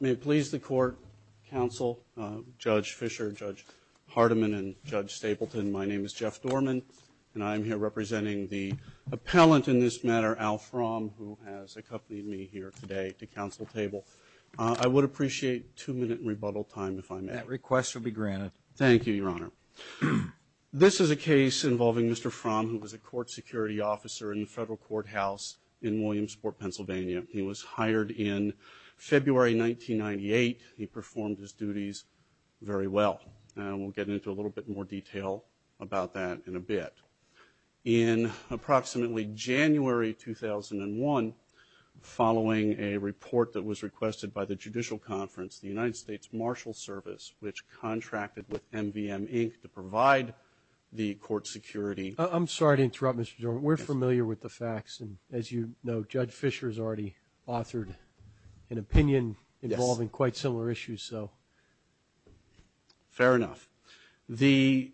May it please the court, counsel, Judge Fischer, Judge Hardiman, and Judge Stapleton, my name is Jeff Dorman, and I'm here representing the appellant in this matter, Al Fromm, who has accompanied me here today to counsel table. I would appreciate two-minute rebuttal time if I may. That request will be granted. Thank you, Your Honor. This is a case involving Mr. Fromm, who was a court security officer in the Federal Courthouse in Williamsport, Pennsylvania. He was hired in February, 1998. He performed his duties very well, and we'll get into a little bit more detail about that in a bit. In approximately January, 2001, following a report that was requested by the Judicial Conference, the United States Marshal Service, which contracted with MVMInc. to provide the court security. I'm sorry to interrupt, Mr. Dorman. We're familiar with the facts, and as you know, Judge Fischer has already authored an opinion involving quite similar issues, so. Fair enough. The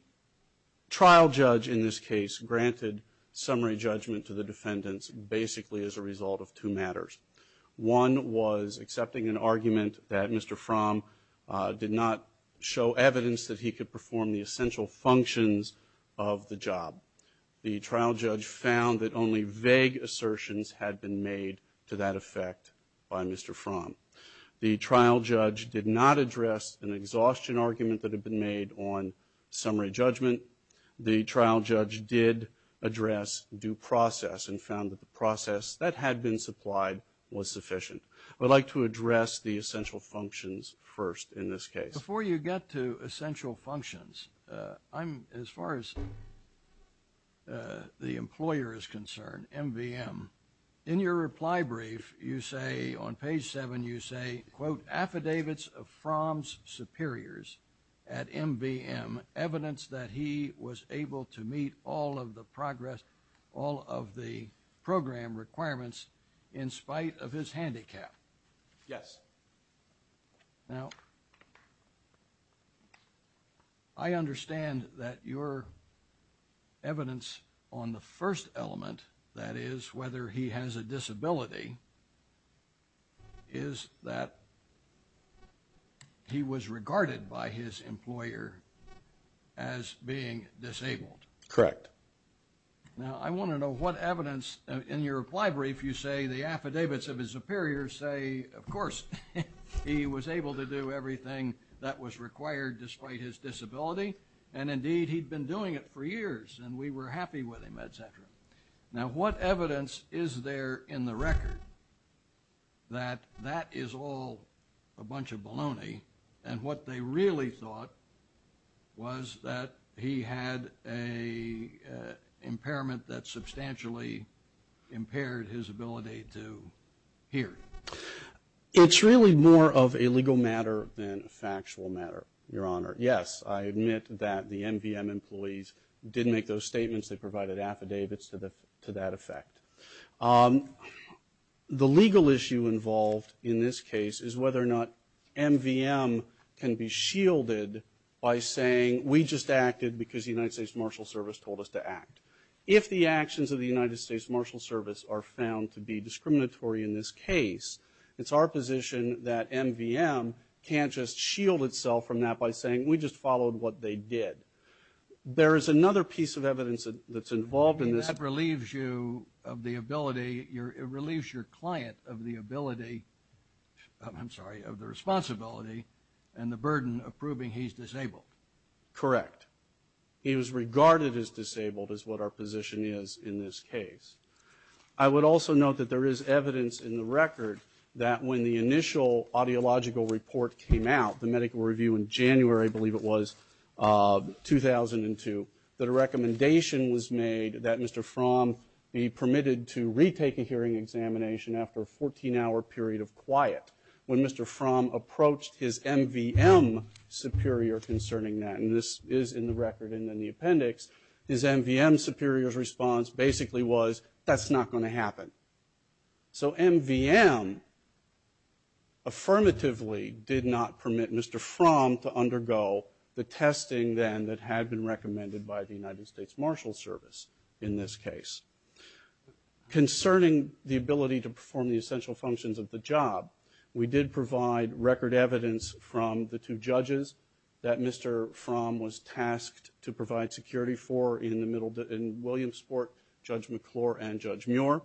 trial judge in this case granted summary judgment to the defendants basically as a result of two matters. One was accepting an argument that Mr. Fromm did not show evidence that he could perform the essential functions of the job. The trial judge found that only vague assertions had been made to that effect by Mr. Fromm. The trial judge did not address an exhaustion argument that had been made on summary judgment. The trial judge did address due process and found that the process that had been supplied was sufficient. I'd like to address the essential functions first in this case. Before you get to essential functions, I'm, as far as the employer is concerned, MVM, in your reply brief, you say, on page seven, you say, quote, affidavits of Fromm's superiors at MVM, evidence that he was able to meet all of the progress, all of the program requirements in spite of his handicap. Yes. Now, I understand that your evidence on the first element, that is, whether he has a disability, is that he was regarded by his employer as being disabled. Correct. Now, I want to know what evidence, in your reply brief, you say the affidavits of his he was able to do everything that was required despite his disability, and indeed he'd been doing it for years, and we were happy with him, et cetera. Now, what evidence is there in the record that that is all a bunch of baloney, and what they really thought was that he had an impairment that substantially impaired his ability to hear? It's really more of a legal matter than a factual matter, Your Honor. Yes, I admit that the MVM employees did make those statements. They provided affidavits to that effect. The legal issue involved in this case is whether or not MVM can be shielded by saying, we just acted because the United States Marshal Service told us to act. If the actions of the United States Marshal Service are found to be discriminatory in this case, it's our position that MVM can't just shield itself from that by saying, we just followed what they did. There is another piece of evidence that's involved in this. And that relieves you of the ability, it relieves your client of the ability, I'm sorry, of the responsibility and the burden of proving he's disabled. Correct. He was regarded as disabled is what our position is in this case. I would also note that there is evidence in the record that when the initial audiological report came out, the medical review in January, I believe it was, 2002, that a recommendation was made that Mr. Fromm be permitted to retake a hearing examination after a 14-hour period of quiet. When Mr. Fromm approached his MVM superior concerning that, and this is in the record and in the appendix, his MVM superior's response basically was, that's not going to happen. So MVM affirmatively did not permit Mr. Fromm to undergo the testing then that had been recommended by the United States Marshal Service in this case. Concerning the ability to perform the essential functions of the job, we did provide record evidence from the two judges that Mr. Fromm was tasked to provide security for in Williamsport, Judge McClure and Judge Muir,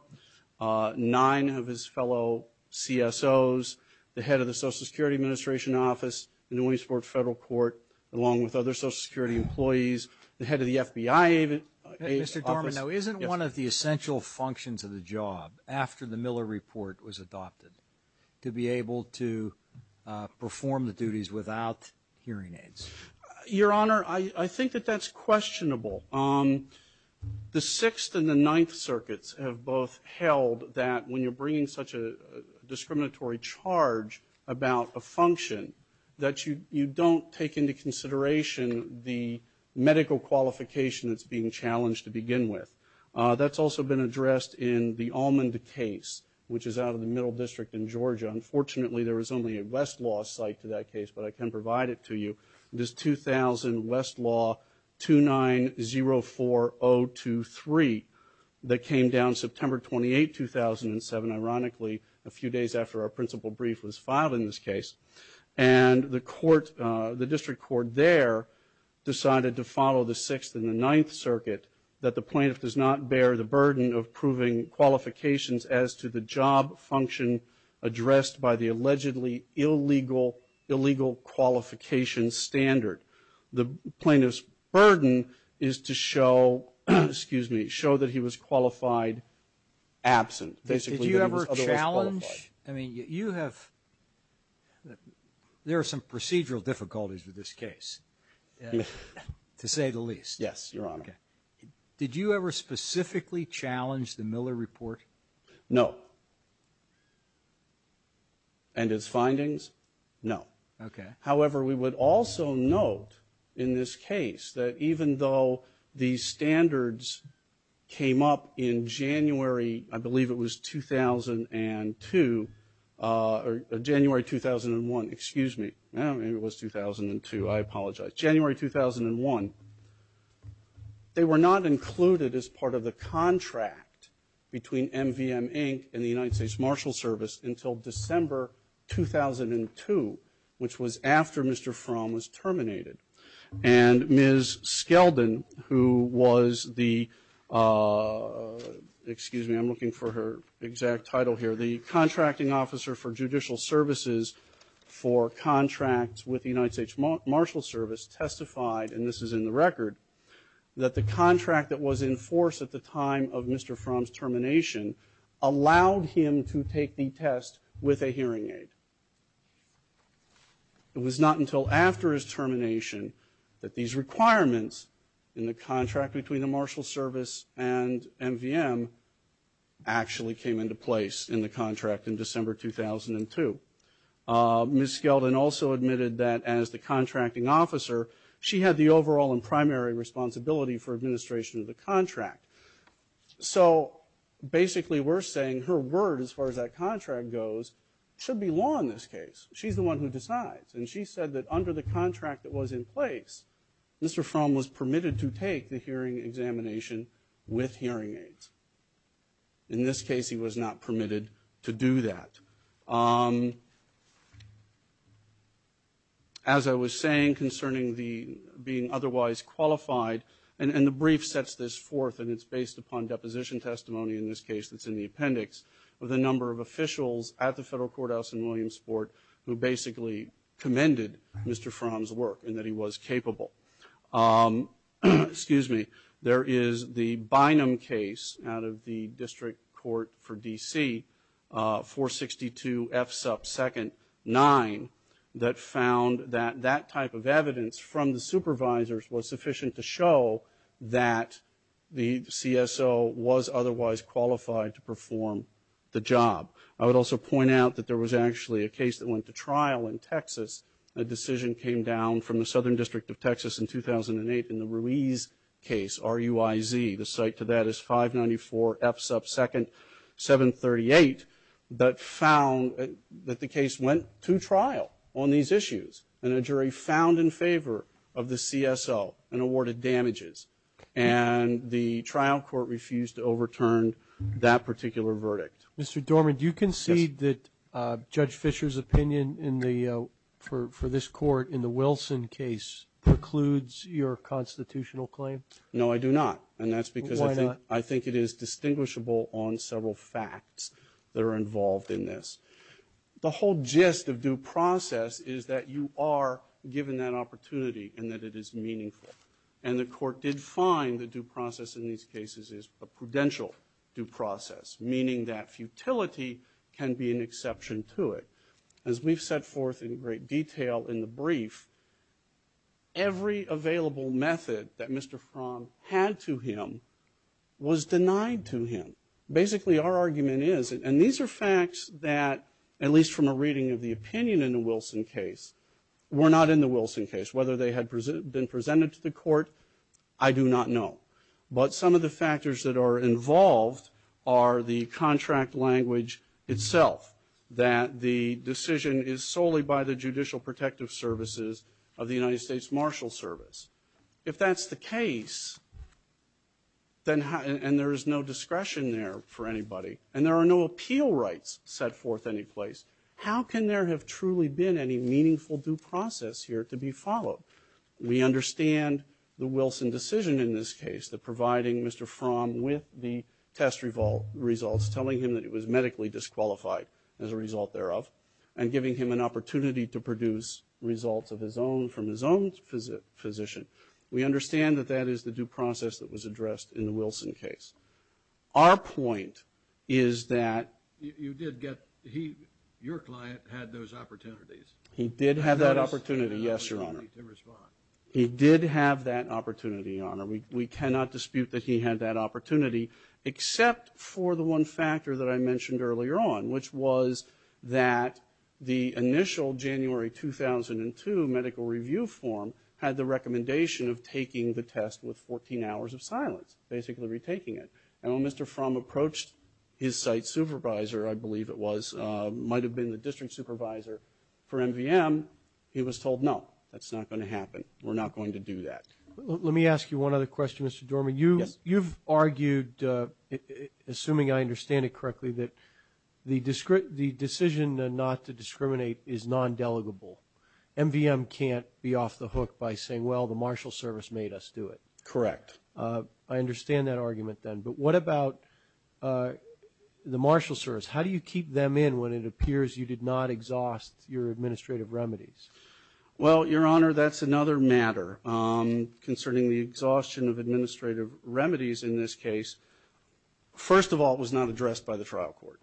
nine of his fellow CSOs, the head of the Social Security Administration Office in the Williamsport Federal Court, along with other Social Security employees, the head of the FBI office. Mr. Dorman, now isn't one of the essential functions of the job, after the Miller report was adopted, to be able to perform the duties without hearing aids? Your Honor, I think that that's questionable. The Sixth and the Ninth Circuits have both held that when you're bringing such a discriminatory charge about a function, that you don't take into consideration the medical qualification that's being challenged to begin with. That's also been addressed in the Almond case, which is out of the Middle District in Georgia. Unfortunately, there is only a Westlaw site to that case, but I can provide it to you. It is 2000 Westlaw 2904023 that came down September 28, 2007, ironically, a few days after our principal brief was filed in this case. And the court, the district court there, decided to follow the Sixth and the Ninth Circuit that the plaintiff does not bear the burden of proving qualifications as to the job function addressed by the allegedly illegal, illegal qualification standard. The plaintiff's burden is to show, excuse me, show that he was qualified absent, basically that he was otherwise qualified. Did you ever challenge? I mean, you have, there are some procedural difficulties with this case, to say the least. Yes, Your Honor. Did you ever specifically challenge the Miller Report? No. And its findings? No. However, we would also note in this case that even though these standards came up in January, I believe it was 2002, or January 2001, excuse me, maybe it was 2002, I apologize, January 2001, they were not included as part of the contract between MVM Inc. and the United States Marshal Service until December 2002, which was after Mr. Fromm was terminated. And Ms. Skeldon, who was the, excuse me, I'm looking for her exact title here, the Contracting Officer, she testified, and this is in the record, that the contract that was in force at the time of Mr. Fromm's termination allowed him to take the test with a hearing aid. It was not until after his termination that these requirements in the contract between the Marshal Service and MVM actually came into place in the contract in December 2002. Ms. Skeldon also admitted that as the Contracting Officer, she had the overall and primary responsibility for administration of the contract. So basically we're saying her word as far as that contract goes should be law in this case. She's the one who decides. And she said that under the contract that was in place, Mr. Fromm was permitted to take the hearing examination with hearing aids. In this case he was not permitted to do that. As I was saying concerning the being otherwise qualified, and the brief sets this forth and it's based upon deposition testimony in this case that's in the appendix, with a number of officials at the Federal Courthouse in Williamsport who basically commended Mr. Fromm's work and that he was capable. There is the Bynum case out of the District Court for D.C. 462 F. Supp. 2nd. 9 that found that that type of evidence from the supervisors was sufficient to show that the CSO was otherwise qualified to perform the job. I would also point out that there was actually a case that went to trial in Texas. A decision came down from the Southern District of Texas in 2008 in the Ruiz case, R-U-I-Z. The site to that is 594 F. Supp. 2nd. 738 that found that the case went to trial on these issues. And a jury found in favor of the CSO and awarded damages. And the trial court refused to overturn that particular verdict. Mr. Dorman, do you concede that Judge Fisher's opinion for this court in the Wilson case precludes your constitutional claim? No, I do not. And that's because I think it is distinguishable on several facts that are involved in this. The whole gist of due process is that you are given that opportunity and that it is meaningful. And the court did find the due process in these cases is a prudential due process, meaning that futility can be an exception to it. As we've set forth in great detail in the brief, every available method that Mr. Fromm had to him was denied to him. Basically, our argument is, and these are facts that, at least from a reading of the opinion in the Wilson case, were not in the Wilson case. Whether they had been presented to the court, I do not know. But some of the factors that are involved are the contract language itself, that the decision is solely by the Judicial Protective Services of the United States Marshal Service. If that's the case, and there is no discretion there for anybody, and there are no appeal rights set forth any place, how can there have truly been any meaningful due process here to be followed? We understand the Wilson decision in this case, the providing Mr. Fromm with the test results, telling him that he was medically disqualified as a result thereof, and giving him an opportunity to produce results of his own from his own physician. We understand that that is the due process that was addressed in the Wilson case. Our point is that... Your client had those opportunities. He did have that opportunity, yes, Your Honor. He did have that opportunity, Your Honor. We cannot dispute that he had that opportunity, except for the one factor that I mentioned earlier on, which was that the initial January 2002 medical review form had the recommendation of taking the test with 14 hours of silence, basically retaking it. And when Mr. Fromm approached his site supervisor, I believe it was, might have been the district supervisor for MVM, he was told, no, that's not going to happen. We're not going to do that. Let me ask you one other question, Mr. Dorman. You've argued, assuming I understand it correctly, that the decision not to discriminate is non-delegable. MVM can't be off the hook by saying, well, the Marshal Service made us do it. Correct. I understand that argument, then. But what about the Marshal Service? How do you keep them in when it appears you did not exhaust your administrative remedies? Well, Your Honor, that's another matter. Concerning the exhaustion of administrative remedies in this case, first of all, it was not addressed by the trial court.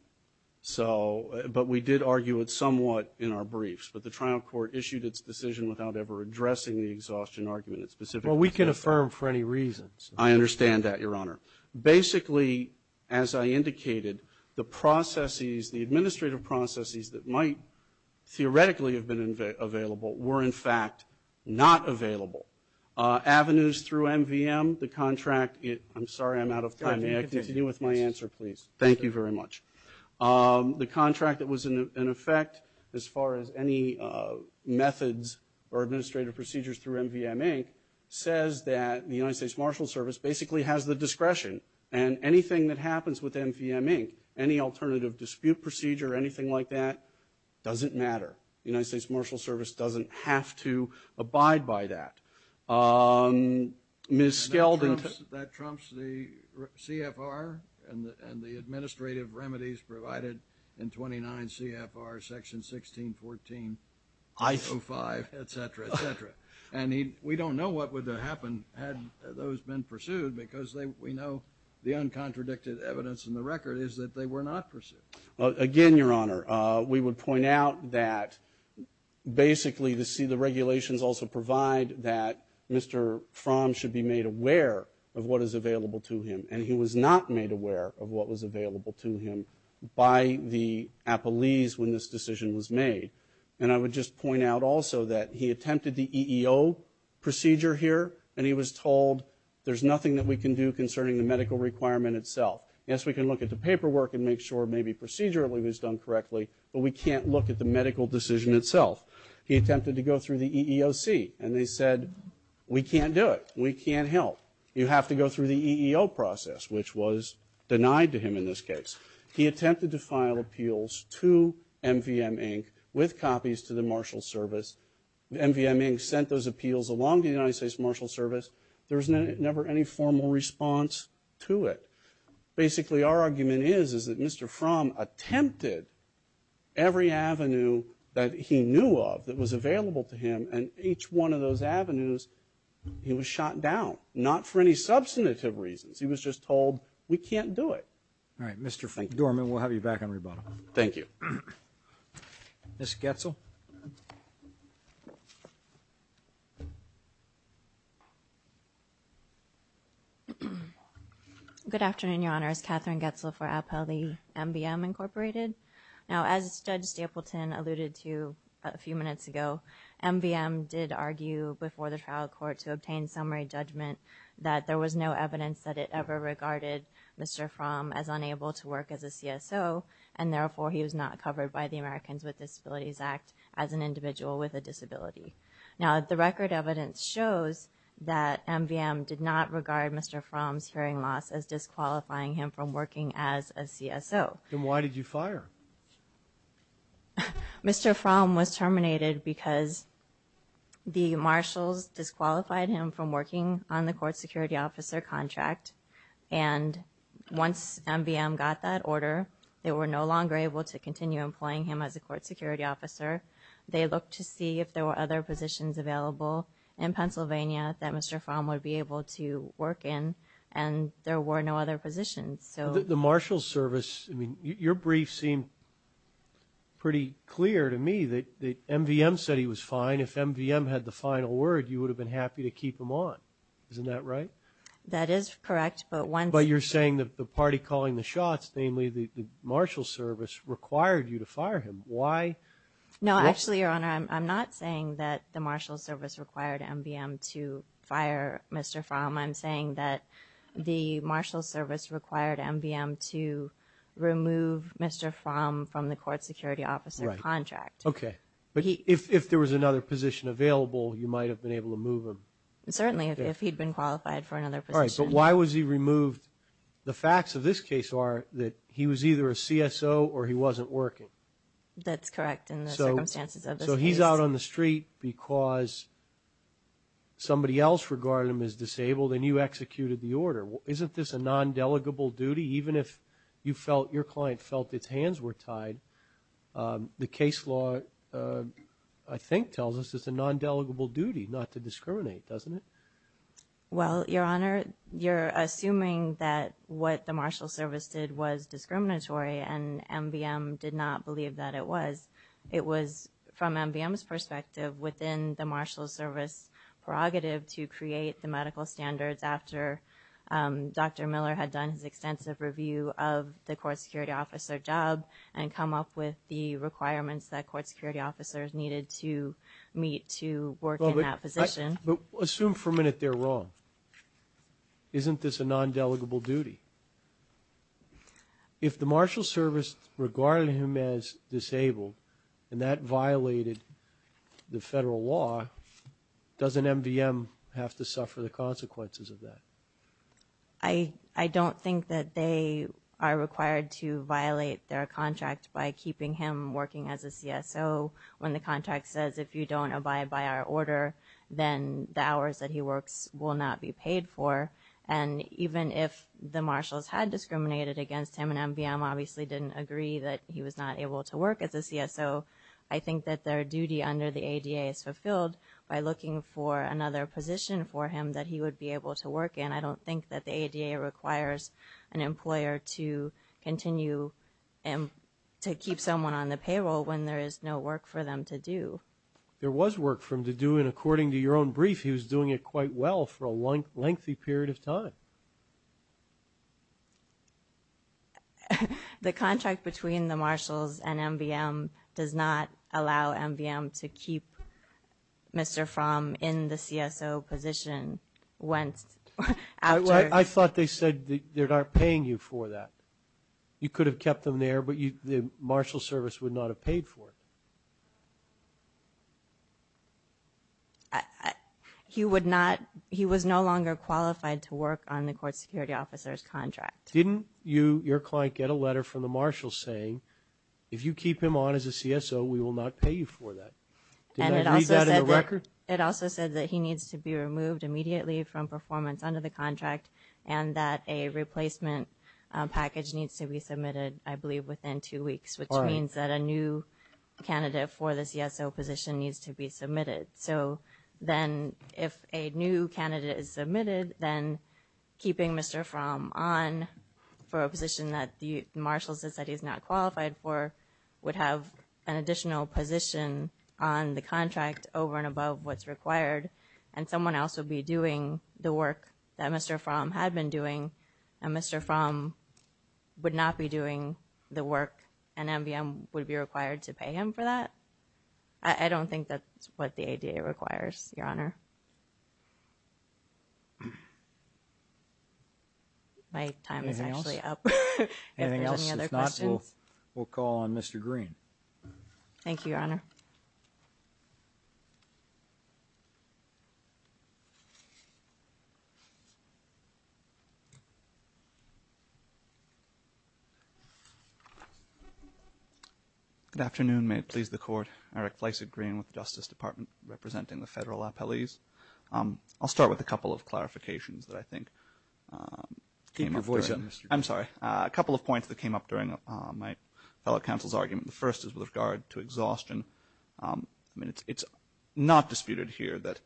So, but we did argue it somewhat in our briefs. But the trial court issued its decision without ever addressing the exhaustion argument. Well, we can affirm for any reasons. I understand that, Your Honor. Basically, as I indicated, the processes, the administrative processes that might theoretically have been available were, in fact, not available. Avenues through MVM, the contract, I'm sorry I'm out of time. May I continue with my answer, please? Thank you very much. The contract that was in effect, as far as any methods or administrative procedures through MVM, Inc., says that the United States Marshal Service basically has the discretion. And anything that happens with MVM, Inc., any alternative dispute procedure, anything like that, doesn't matter. The United States Marshal Service doesn't have to abide by that. Ms. Skelton. That trumps the CFR and the administrative remedies provided in 29 CFR section 1614.05, et cetera, et cetera. And we don't know what would have happened had those been pursued because we know the uncontradicted evidence in the record is that they were not pursued. Again, Your Honor, we would point out that basically the regulations also provide that Mr. Fromm should be made aware of what is available to him. And he was not made aware of what was available to him by the appellees when this decision was made. And I would just point out also that he attempted the EEO procedure here, and he was told there's nothing that we can do concerning the medical requirement itself. Yes, we can look at the paperwork and make sure maybe procedurally it was done correctly, but we can't look at the medical decision itself. He attempted to go through the EEOC, and they said, we can't do it. We can't help. You have to go through the EEO process, which was denied to him in this case. He attempted to file appeals to MVM, Inc., with copies to the Marshal Service. MVM, Inc. sent those appeals along to the United States Marshal Service. There was never any formal response to it. Basically, our argument is, is that Mr. Fromm attempted every avenue that he knew of that was available to him, and each one of those avenues he was shot down, not for any substantive reasons. He was just told, we can't do it. All right. Mr. Dorman, we'll have you back on rebuttal. Thank you. Ms. Goetzel. Good afternoon, Your Honor. It's Katherine Goetzel for Appellee, MVM, Inc. Now, as Judge Stapleton alluded to a few minutes ago, MVM did argue before the trial court to obtain summary judgment that there was no evidence that it ever regarded Mr. Fromm as unable to work as a CSO, and therefore, he was not covered by the Americans with Disabilities Act as an individual with a disability. Now, the record evidence shows that MVM did not regard Mr. Fromm's hearing loss as disqualifying him from working as a CSO. Then why did you fire? Mr. Fromm was terminated because the marshals disqualified him from working on the court security officer contract, and once MVM got that order, they were no longer able to continue employing him as a court security officer. They looked to see if there were other positions available in Pennsylvania that Mr. Fromm would be able to work in, and there were no other positions. The marshals service, I mean, your brief seemed pretty clear to me that MVM said he was fine. If MVM had the final word, you would have been happy to keep him on. Isn't that right? That is correct, but once... But you're saying that the party calling the shots, namely the marshals service, required you to fire him. Why? No, actually, Your Honor, I'm not saying that the marshals service required MVM to fire Mr. Fromm. I'm saying that the marshals service required MVM to remove Mr. Fromm from the court security officer contract. Okay, but if there was another position available, you might have been able to move him. Certainly, if he'd been qualified for another position. All right, but why was he removed? The facts of this case are that he was either a CSO or he wasn't working. That's correct in the circumstances of this case. So he's out on the street because somebody else regarded him as disabled and you executed the order. Isn't this a non-delegable duty? Even if you felt your client felt its hands were tied, the case law, I think, tells us it's a non-delegable duty not to discriminate, doesn't it? Well, Your Honor, you're assuming that what the marshals service did was discriminatory and MVM did not believe that it was. It was, from MVM's perspective, within the marshals service prerogative to create the medical standards after Dr. Miller had done his extensive review of the court security officer job and come up with the requirements that court security officers needed to meet to work in that position. Assume for a minute they're wrong. Isn't this a non-delegable duty? If the marshals service regarded him as disabled and that violated the federal law, doesn't MVM have to suffer the consequences of that? I don't think that they are required to violate their contract by keeping him working as a CSO when the contract says if you don't abide by our order, then the hours that he works will not be paid for. And even if the marshals had discriminated against him and MVM obviously didn't agree that he was not able to work as a CSO, I think that their duty under the ADA is fulfilled by looking for another position for him that he would be able to work in. I don't think that the ADA requires an employer to continue to keep someone on the payroll when there is no work for them to do. There was work for them to do and according to your own brief, he was doing it quite well for a lengthy period of time. The contract between the marshals and MVM does not allow MVM to keep Mr. Fromm in the CSO position once after... I thought they said they're not paying you for that. You could have kept them there, but the marshal service would not have paid for it. He was no longer qualified to work on the court security officer's contract. Didn't your client get a letter from the marshals saying, if you keep him on as a CSO, we will not pay you for that? Did that read that in the record? It also said that he needs to be removed immediately from performance under the contract and that a replacement package needs to be submitted, I believe, within two weeks, which means that a new candidate for the CSO position needs to be submitted. So then if a new candidate is submitted, then keeping Mr. Fromm on for a position that the marshal says that he's not qualified for would have an additional position on the contract over and above what's required and someone else would be doing the work that Mr. Fromm had been doing and Mr. Fromm would not be doing the work and MVM would be required to pay him for that? I don't think that's what the ADA requires, Your Honor. My time is actually up. Anything else? If not, we'll call on Mr. Green. Thank you, Your Honor. Good afternoon. May it please the Court. Eric Fleisig, Green, with the Justice Department, representing the federal appellees. I'll start with a couple of clarifications that I think came up. Keep your voice up, Mr. Green. I'm sorry. A couple of points that came up during my fellow counsel's argument. The first is with regard to exhaustion. I mean, it's not disputed here that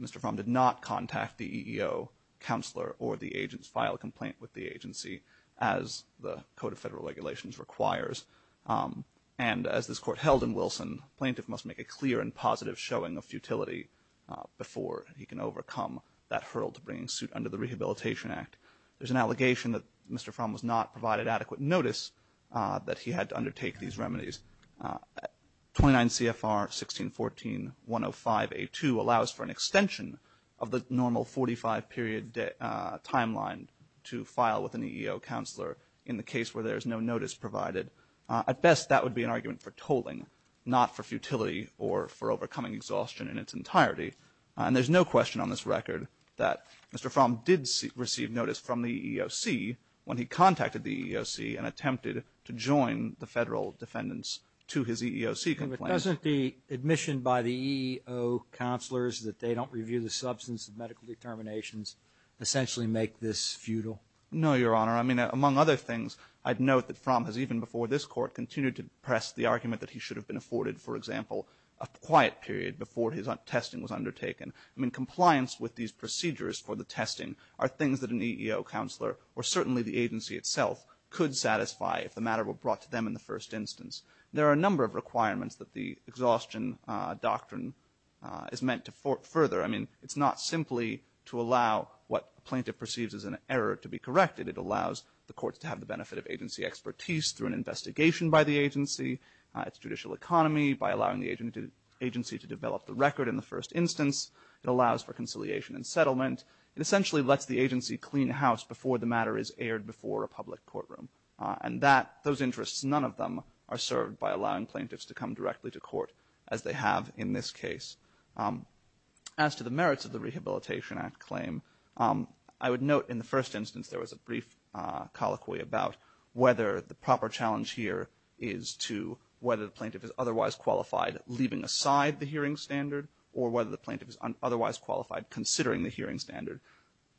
Mr. Fromm did not contact the EEO counselor or the agents, file a complaint with the agency as the Code of Federal Regulations requires. And as this Court held in Wilson, plaintiff must make a clear and positive showing of futility before he can overcome that hurdle to bringing suit under the Rehabilitation Act. There's an allegation that Mr. Fromm was not provided adequate notice that he had to undertake these remedies. 29 CFR 1614-105A2 allows for an extension of the normal 45-period timeline to file with an EEO counselor in the case where there's no notice provided. At best, that would be an argument for tolling, not for futility or for overcoming exhaustion in its entirety. And there's no question on this record that Mr. Fromm did receive notice from the EEOC when he contacted the EEOC and attempted to join the Federal defendants to his EEOC complaint. But doesn't the admission by the EEO counselors that they don't review the substance of medical determinations essentially make this futile? No, Your Honor. I mean, among other things, I'd note that Fromm has even before this Court continued to press the argument that he should have been afforded, for example, a quiet period before his testing was undertaken. I mean, compliance with these procedures for the testing are things that an EEO counselor or certainly the agency itself could satisfy if the matter were brought to them in the first instance. There are a number of requirements that the exhaustion doctrine is meant to further. I mean, it's not simply to allow what a plaintiff perceives as an error to be corrected. It allows the courts to have the benefit of agency expertise through an investigation by the agency, its judicial economy, by allowing the agency to develop the record in the first instance. It allows for conciliation and settlement. It essentially lets the agency clean house before the matter is aired before a public courtroom. And that, those interests, none of them are served by allowing plaintiffs to come directly to court as they have in this case. As to the merits of the Rehabilitation Act claim, I would note in the first instance there was a brief colloquy about whether the proper challenge here is to whether the plaintiff is otherwise qualified leaving aside the hearing standard or whether the plaintiff is otherwise qualified considering the hearing standard.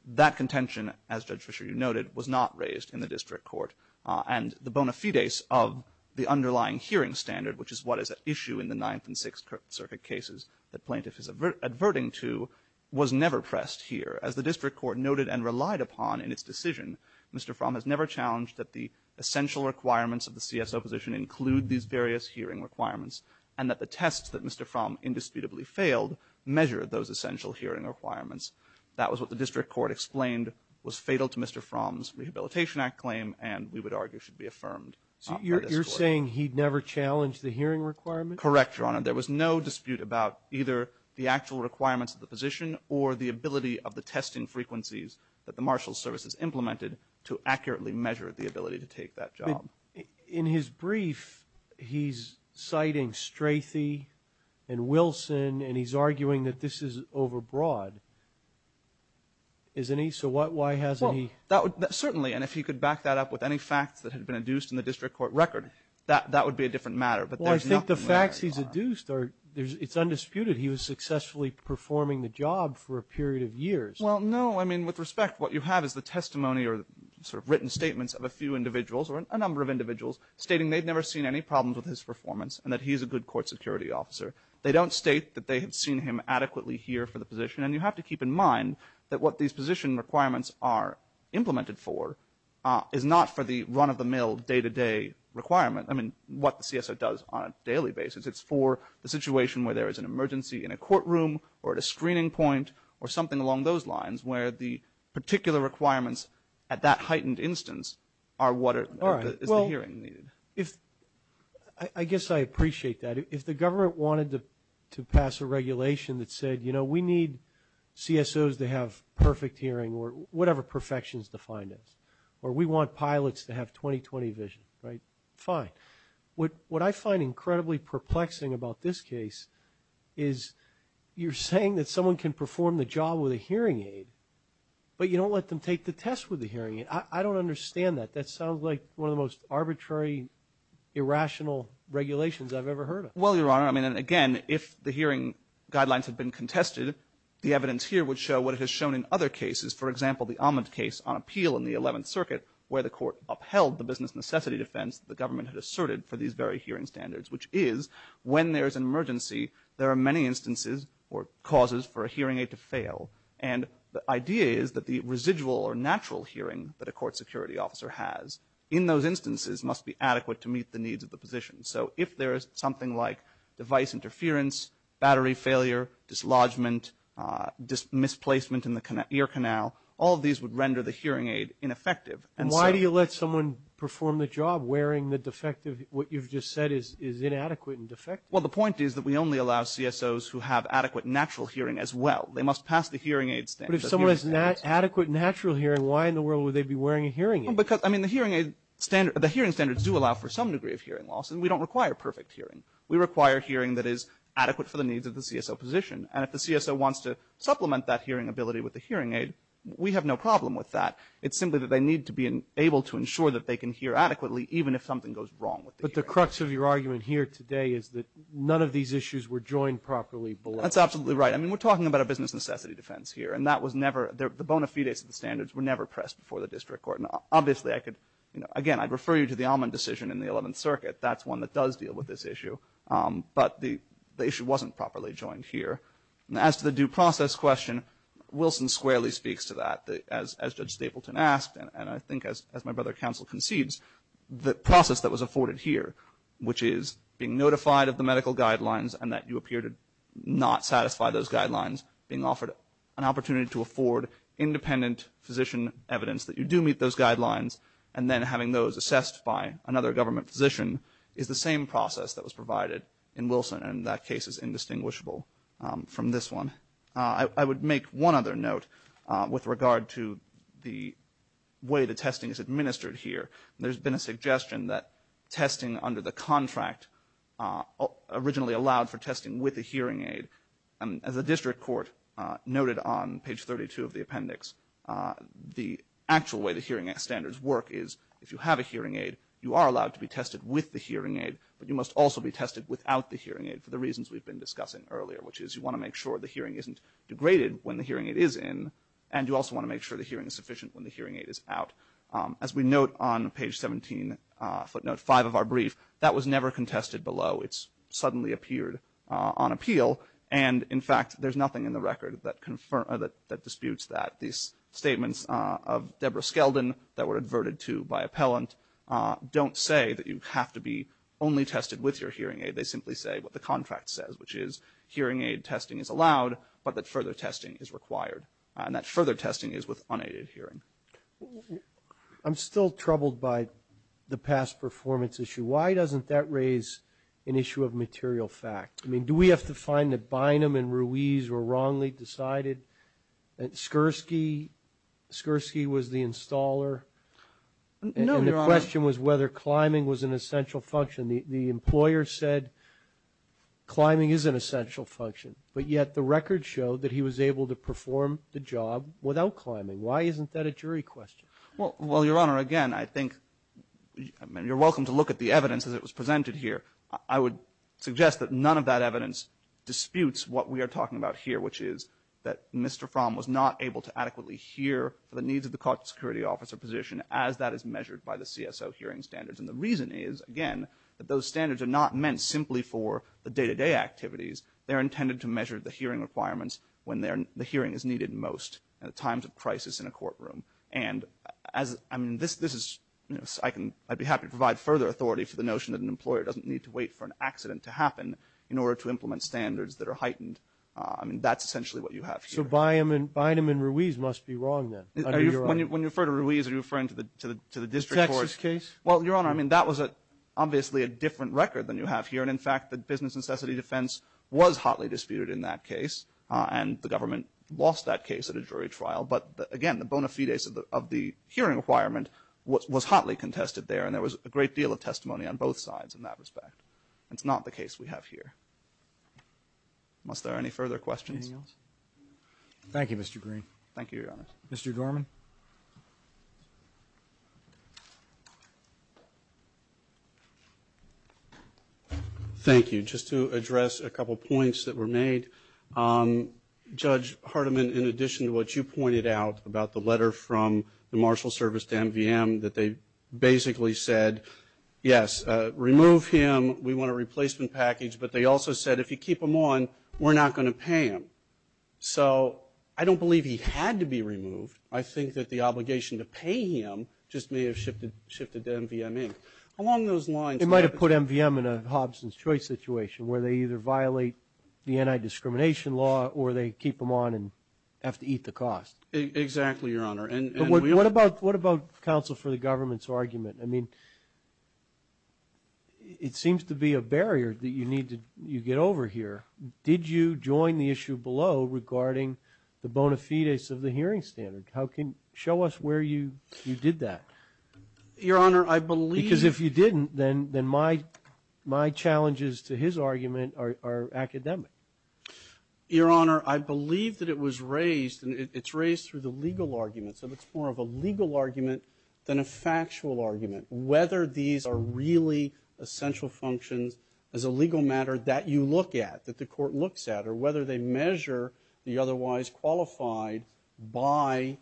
That contention, as Judge Fischer noted, was not raised in the district court. And the bona fides of the underlying hearing standard, which is what is at issue in the Ninth and Sixth Circuit cases that plaintiff is adverting to, was never pressed here. As the district court noted and relied upon in its decision, Mr. Fromm has never challenged that the essential requirements of the CSO position include these various hearing requirements and that the tests that Mr. Fromm indisputably failed measured those essential hearing requirements. That was what the district court explained was fatal to Mr. Fromm's Rehabilitation Act claim and we would argue should be affirmed by the district court. So you're saying he never challenged the hearing requirements? Correct, Your Honor. There was no dispute about either the actual requirements of the position or the ability of the testing frequencies that the marshal services implemented to accurately measure the ability to take that job. In his brief, he's citing Strathey and Wilson and he's arguing that this is overbroad. Isn't he? So why hasn't he? Well, certainly. And if he could back that up with any facts that had been adduced in the district court record, that would be a different matter. Well, I think the facts he's adduced are, it's undisputed he was successfully performing the job for a period of years. Well, no. I mean, with respect, what you have is the testimony or sort of written statements of a few individuals or a number of individuals stating they'd never seen any problems with his performance and that he's a good court security officer. They don't state that they had seen him adequately here for the position. And you have to keep in mind that what these position requirements are implemented for is not for the run-of-the-mill day-to-day requirement. I mean, what the CSO does on a daily basis. It's for the situation where there is an emergency in a courtroom or at a screening point or something along those lines where the particular requirements at that heightened instance are what is the hearing needed. I guess I appreciate that. If the government wanted to pass a regulation that said, you know, we need CSOs to have perfect hearing or whatever perfection is defined as, or we want pilots to have 20-20 vision, right, fine. What I find incredibly perplexing about this case is you're saying that someone can perform the job with a hearing aid, but you don't let them take the test with the hearing aid. I don't understand that. That sounds like one of the most arbitrary, irrational regulations I've ever heard of. Well, Your Honor, I mean, and again, if the hearing guidelines had been contested, the evidence here would show what it has shown in other cases. For example, the Amond case on appeal in the 11th Circuit where the court upheld the business necessity defense the government had asserted for these very hearing standards, which is when there's an emergency, there are many instances or causes for a hearing aid to fail. And the idea is that the residual or natural hearing that a court security officer has in those instances must be adequate to meet the needs of the position. So if there is something like device interference, battery failure, dislodgement, misplacement in the ear canal, all of these would render the hearing aid ineffective. And why do you let someone perform the job wearing the defective, what you've just said is inadequate and defective? Well, the point is that we only allow CSOs who have adequate natural hearing as well. They must pass the hearing aid standards. But if someone has adequate natural hearing, why in the world would they be wearing a hearing aid? Because, I mean, the hearing standards do allow for some degree of hearing loss, and we don't require perfect hearing. We require hearing that is adequate for the needs of the CSO position. And if the CSO wants to supplement that hearing ability with the hearing aid, we have no problem with that. It's simply that they need to be able to ensure that they can hear adequately, even if something goes wrong with the hearing aid. But the crux of your argument here today is that none of these issues were joined properly below. That's absolutely right. I mean, we're talking about a business necessity defense here, and that was never, the bona fides of the standards were never pressed before the district court. And obviously, I could, you know, again, I'd refer you to the Allman decision in the 11th Circuit. That's one that does deal with this issue. But the issue wasn't properly joined here. And as to the due process question, Wilson squarely speaks to that, as Judge Stapleton asked, and I think as my brother counsel concedes, the process that was afforded here, which is being notified of the medical guidelines and that you appear to not satisfy those guidelines, being offered an opportunity to afford independent physician evidence that you do meet those guidelines, and then having those assessed by another government physician, is the same process that was provided in Wilson. And that case is indistinguishable from this one. I would make one other note with regard to the way the testing is administered here. There's been a suggestion that testing under the contract originally allowed for testing with a hearing aid, and as the district court noted on page 32 of the appendix, the actual way the hearing standards work is if you have a hearing aid, you are allowed to be tested with the hearing aid, but you must also be tested without the hearing aid for the reasons we've been discussing earlier, which is you want to make sure the hearing isn't degraded when the hearing aid is in, and you also want to make sure the hearing is sufficient when the hearing aid is out. As we note on page 17, footnote 5 of our brief, that was never contested below. It's suddenly appeared on appeal, and in fact, there's nothing in the record that disputes that. These statements of Deborah Skeldon that were adverted to by appellant don't say that you have to be only tested with your hearing aid. They simply say what the contract says, which is hearing aid testing is allowed, but that further testing is required. And that further testing is with unaided hearing. I'm still troubled by the past performance issue. Why doesn't that raise an issue of material fact? I mean, do we have to find that Bynum and Ruiz were wrongly decided, that Skirsky was the installer, and the question was whether climbing was an essential function. The employer said climbing is an essential function, but yet the record showed that he was able to perform the job without climbing. Why isn't that a jury question? Well, Your Honor, again, I think you're welcome to look at the evidence as it was presented here. I would suggest that none of that evidence disputes what we are talking about here, which is that Mr. Fromm was not able to adequately hear for the needs of the caught security officer position as that is measured by the CSO hearing standards. And the reason is, again, that those standards are not meant simply for the day-to-day activities. They're intended to measure the hearing requirements when the hearing is needed most at times of crisis in a courtroom. And as, I mean, this is, you know, I'd be happy to provide further authority for the notion that an employer doesn't need to wait for an accident to happen in order to implement standards that are heightened. I mean, that's essentially what you have here. So Bynum and Ruiz must be wrong then, under your argument? When you refer to Ruiz, are you referring to the district court? The Texas case? Well, Your Honor, I mean, that was obviously a different record than you have here, and in fact, the business necessity defense was hotly disputed in that case, and the government lost that case at a jury trial. But again, the bona fides of the hearing requirement was hotly contested there, and there was a great deal of testimony on both sides in that respect. It's not the case we have here. Must there are any further questions? Anything else? Thank you, Mr. Green. Thank you, Your Honor. Mr. Dorman? Thank you. Just to address a couple of points that were made, Judge Hardiman, in addition to what you pointed out about the letter from the Marshal Service to MVM, that they basically said, yes, remove him, we want a replacement package, but they also said, if you keep him on, we're not going to pay him. So I don't believe he had to be removed. I think that the obligation to pay him just may have shifted to MVM Inc. Along those lines- They might have put MVM in a Hobson's Choice situation, where they either the anti-discrimination law, or they keep him on and have to eat the cost. Exactly, Your Honor. And we- What about counsel for the government's argument? I mean, it seems to be a barrier that you need to get over here. Did you join the issue below regarding the bona fides of the hearing standard? How can- show us where you did that. Your Honor, I believe- Your Honor, I believe that it was raised, and it's raised through the legal argument. So it's more of a legal argument than a factual argument. Whether these are really essential functions as a legal matter that you look at, that the court looks at, or whether they measure the otherwise qualified by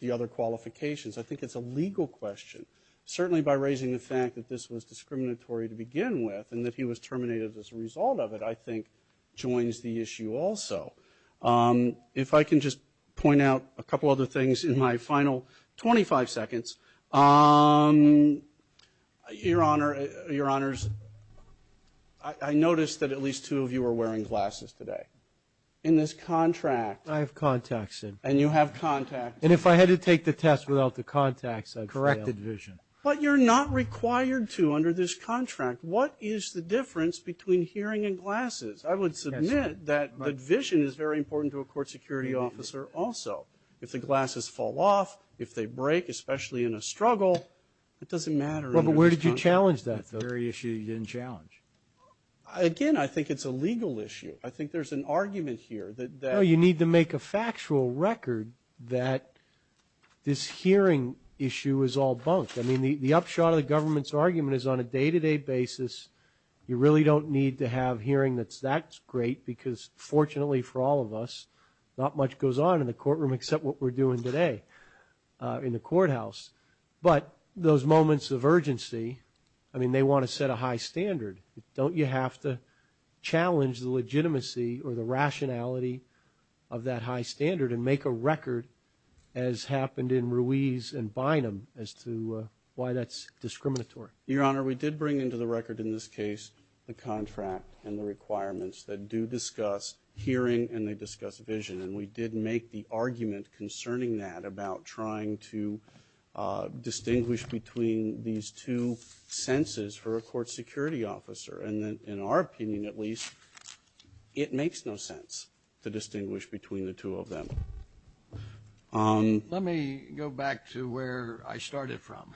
the other qualifications, I think it's a legal question. Certainly by raising the fact that this was discriminatory to begin with, and that he was terminated as a result of it, I think, joins the issue also. If I can just point out a couple other things in my final 25 seconds. Your Honor, your Honors, I noticed that at least two of you are wearing glasses today. In this contract- I have contacts, Sid. And you have contacts. And if I had to take the test without the contacts, I'd fail. Corrected vision. But you're not required to under this contract. What is the difference between hearing and glasses? I would submit that the vision is very important to a court security officer also. If the glasses fall off, if they break, especially in a struggle, it doesn't matter. Well, but where did you challenge that, though? That's the very issue you didn't challenge. Again, I think it's a legal issue. I think there's an argument here that- No, you need to make a factual record that this hearing issue is all bunk. I mean, the upshot of the government's argument is on a day-to-day basis, you really don't need to have a hearing that's that great because, fortunately for all of us, not much goes on in the courtroom except what we're doing today in the courthouse. But those moments of urgency, I mean, they want to set a high standard. Don't you have to challenge the legitimacy or the rationality of that high standard and make a record as happened in Ruiz and Bynum as to why that's discriminatory? Your Honor, we did bring into the record in this case the contract and the requirements that do discuss hearing and they discuss vision. And we did make the argument concerning that about trying to distinguish between these two senses for a court security officer. And in our opinion, at least, it makes no sense to distinguish between the two of them. Let me go back to where I started from,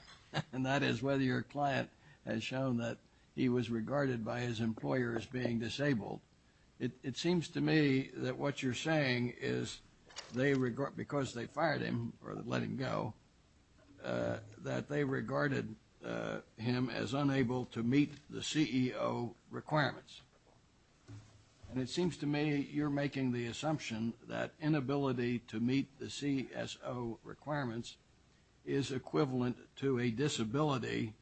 and that is whether your client has shown that he was regarded by his employer as being disabled. It seems to me that what you're saying is because they fired him or let him go, that they regarded him as unable to meet the CEO requirements. And it seems to me you're making the assumption that inability to meet the CSO requirements is equivalent to a disability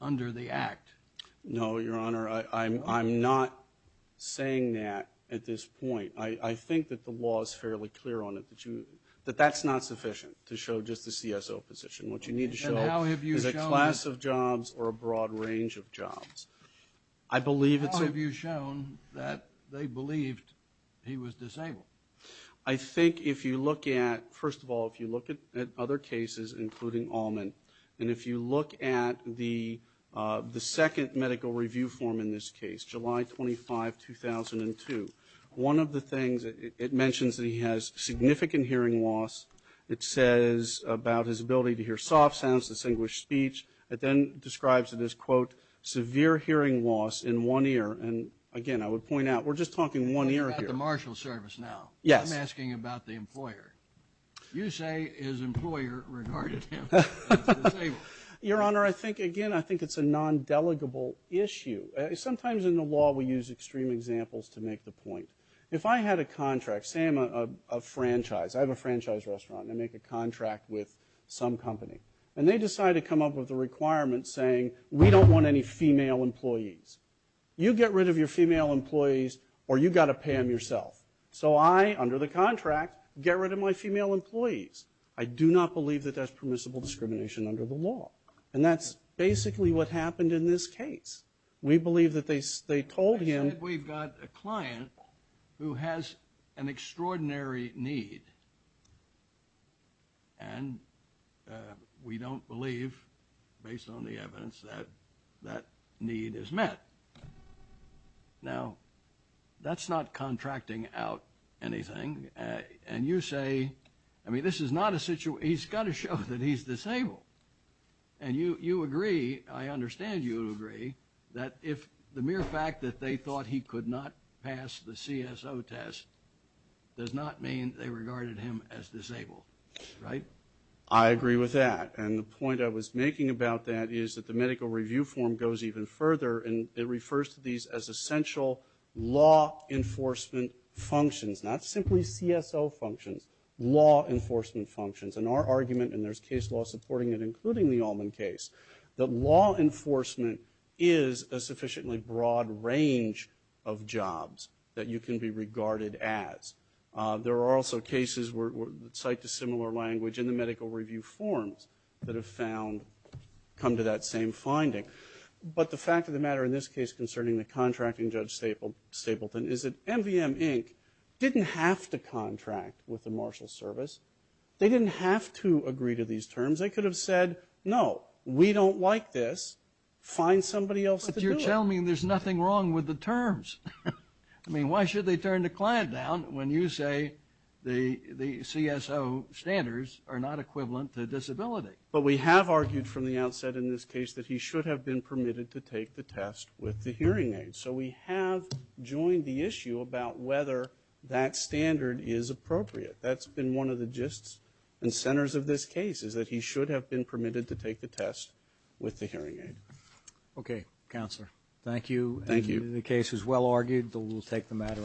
under the Act. No, Your Honor, I'm not saying that at this point. I think that the law is fairly clear on it that you, that that's not sufficient to show just the CSO position. What you need to show is a class of jobs or a broad range of jobs. I believe it's... How have you shown that they believed he was disabled? I think if you look at, first of all, if you look at other cases, including Allman, and if you look at the second medical review form in this case, July 25, 2002, one of the things, it mentions that he has significant hearing loss. It says about his ability to hear soft sounds, distinguished speech. It then describes it as, quote, severe hearing loss in one ear. And again, I would point out, we're just talking one ear here. I'm talking about the marshal service now. Yes. I'm asking about the employer. You say his employer regarded him as disabled. Your Honor, I think, again, I think it's a non-delegable issue. Sometimes in the law we use extreme examples to make the point. If I had a contract, say I'm a franchise, I have a franchise restaurant, and I make a contract with some company. And they decide to come up with a requirement saying, we don't want any female employees. You get rid of your female employees or you got to pay them yourself. So I, under the contract, get rid of my female employees. I do not believe that that's permissible discrimination under the law. And that's basically what happened in this case. We believe that they told him... Who has an extraordinary need. And we don't believe, based on the evidence, that that need is met. Now, that's not contracting out anything. And you say, I mean, this is not a situation, he's got to show that he's disabled. And you agree, I understand you agree, that if the mere fact that they thought he could not pass the CSO test does not mean they regarded him as disabled, right? I agree with that. And the point I was making about that is that the medical review form goes even further. And it refers to these as essential law enforcement functions. Not simply CSO functions, law enforcement functions. And our argument, and there's case law supporting it, including the Allman case, that law enforcement is a sufficiently broad range of jobs that you can be regarded as. There are also cases that cite a similar language in the medical review forms that have found, come to that same finding. But the fact of the matter in this case concerning the contracting Judge Stapleton is that MVM Inc. didn't have to contract with the Marshal Service. They didn't have to agree to these terms. They could have said, no, we don't like this. Find somebody else to do it. But you're telling me there's nothing wrong with the terms. I mean, why should they turn the client down when you say the CSO standards are not equivalent to disability? But we have argued from the outset in this case that he should have been permitted to take the test with the hearing aid. So we have joined the issue about whether that standard is appropriate. That's been one of the gists and centers of this case, is that he should have been permitted to take the test with the hearing aid. OK, Counselor. Thank you. Thank you. The case is well argued. We'll take the matter under advisement. Thank you.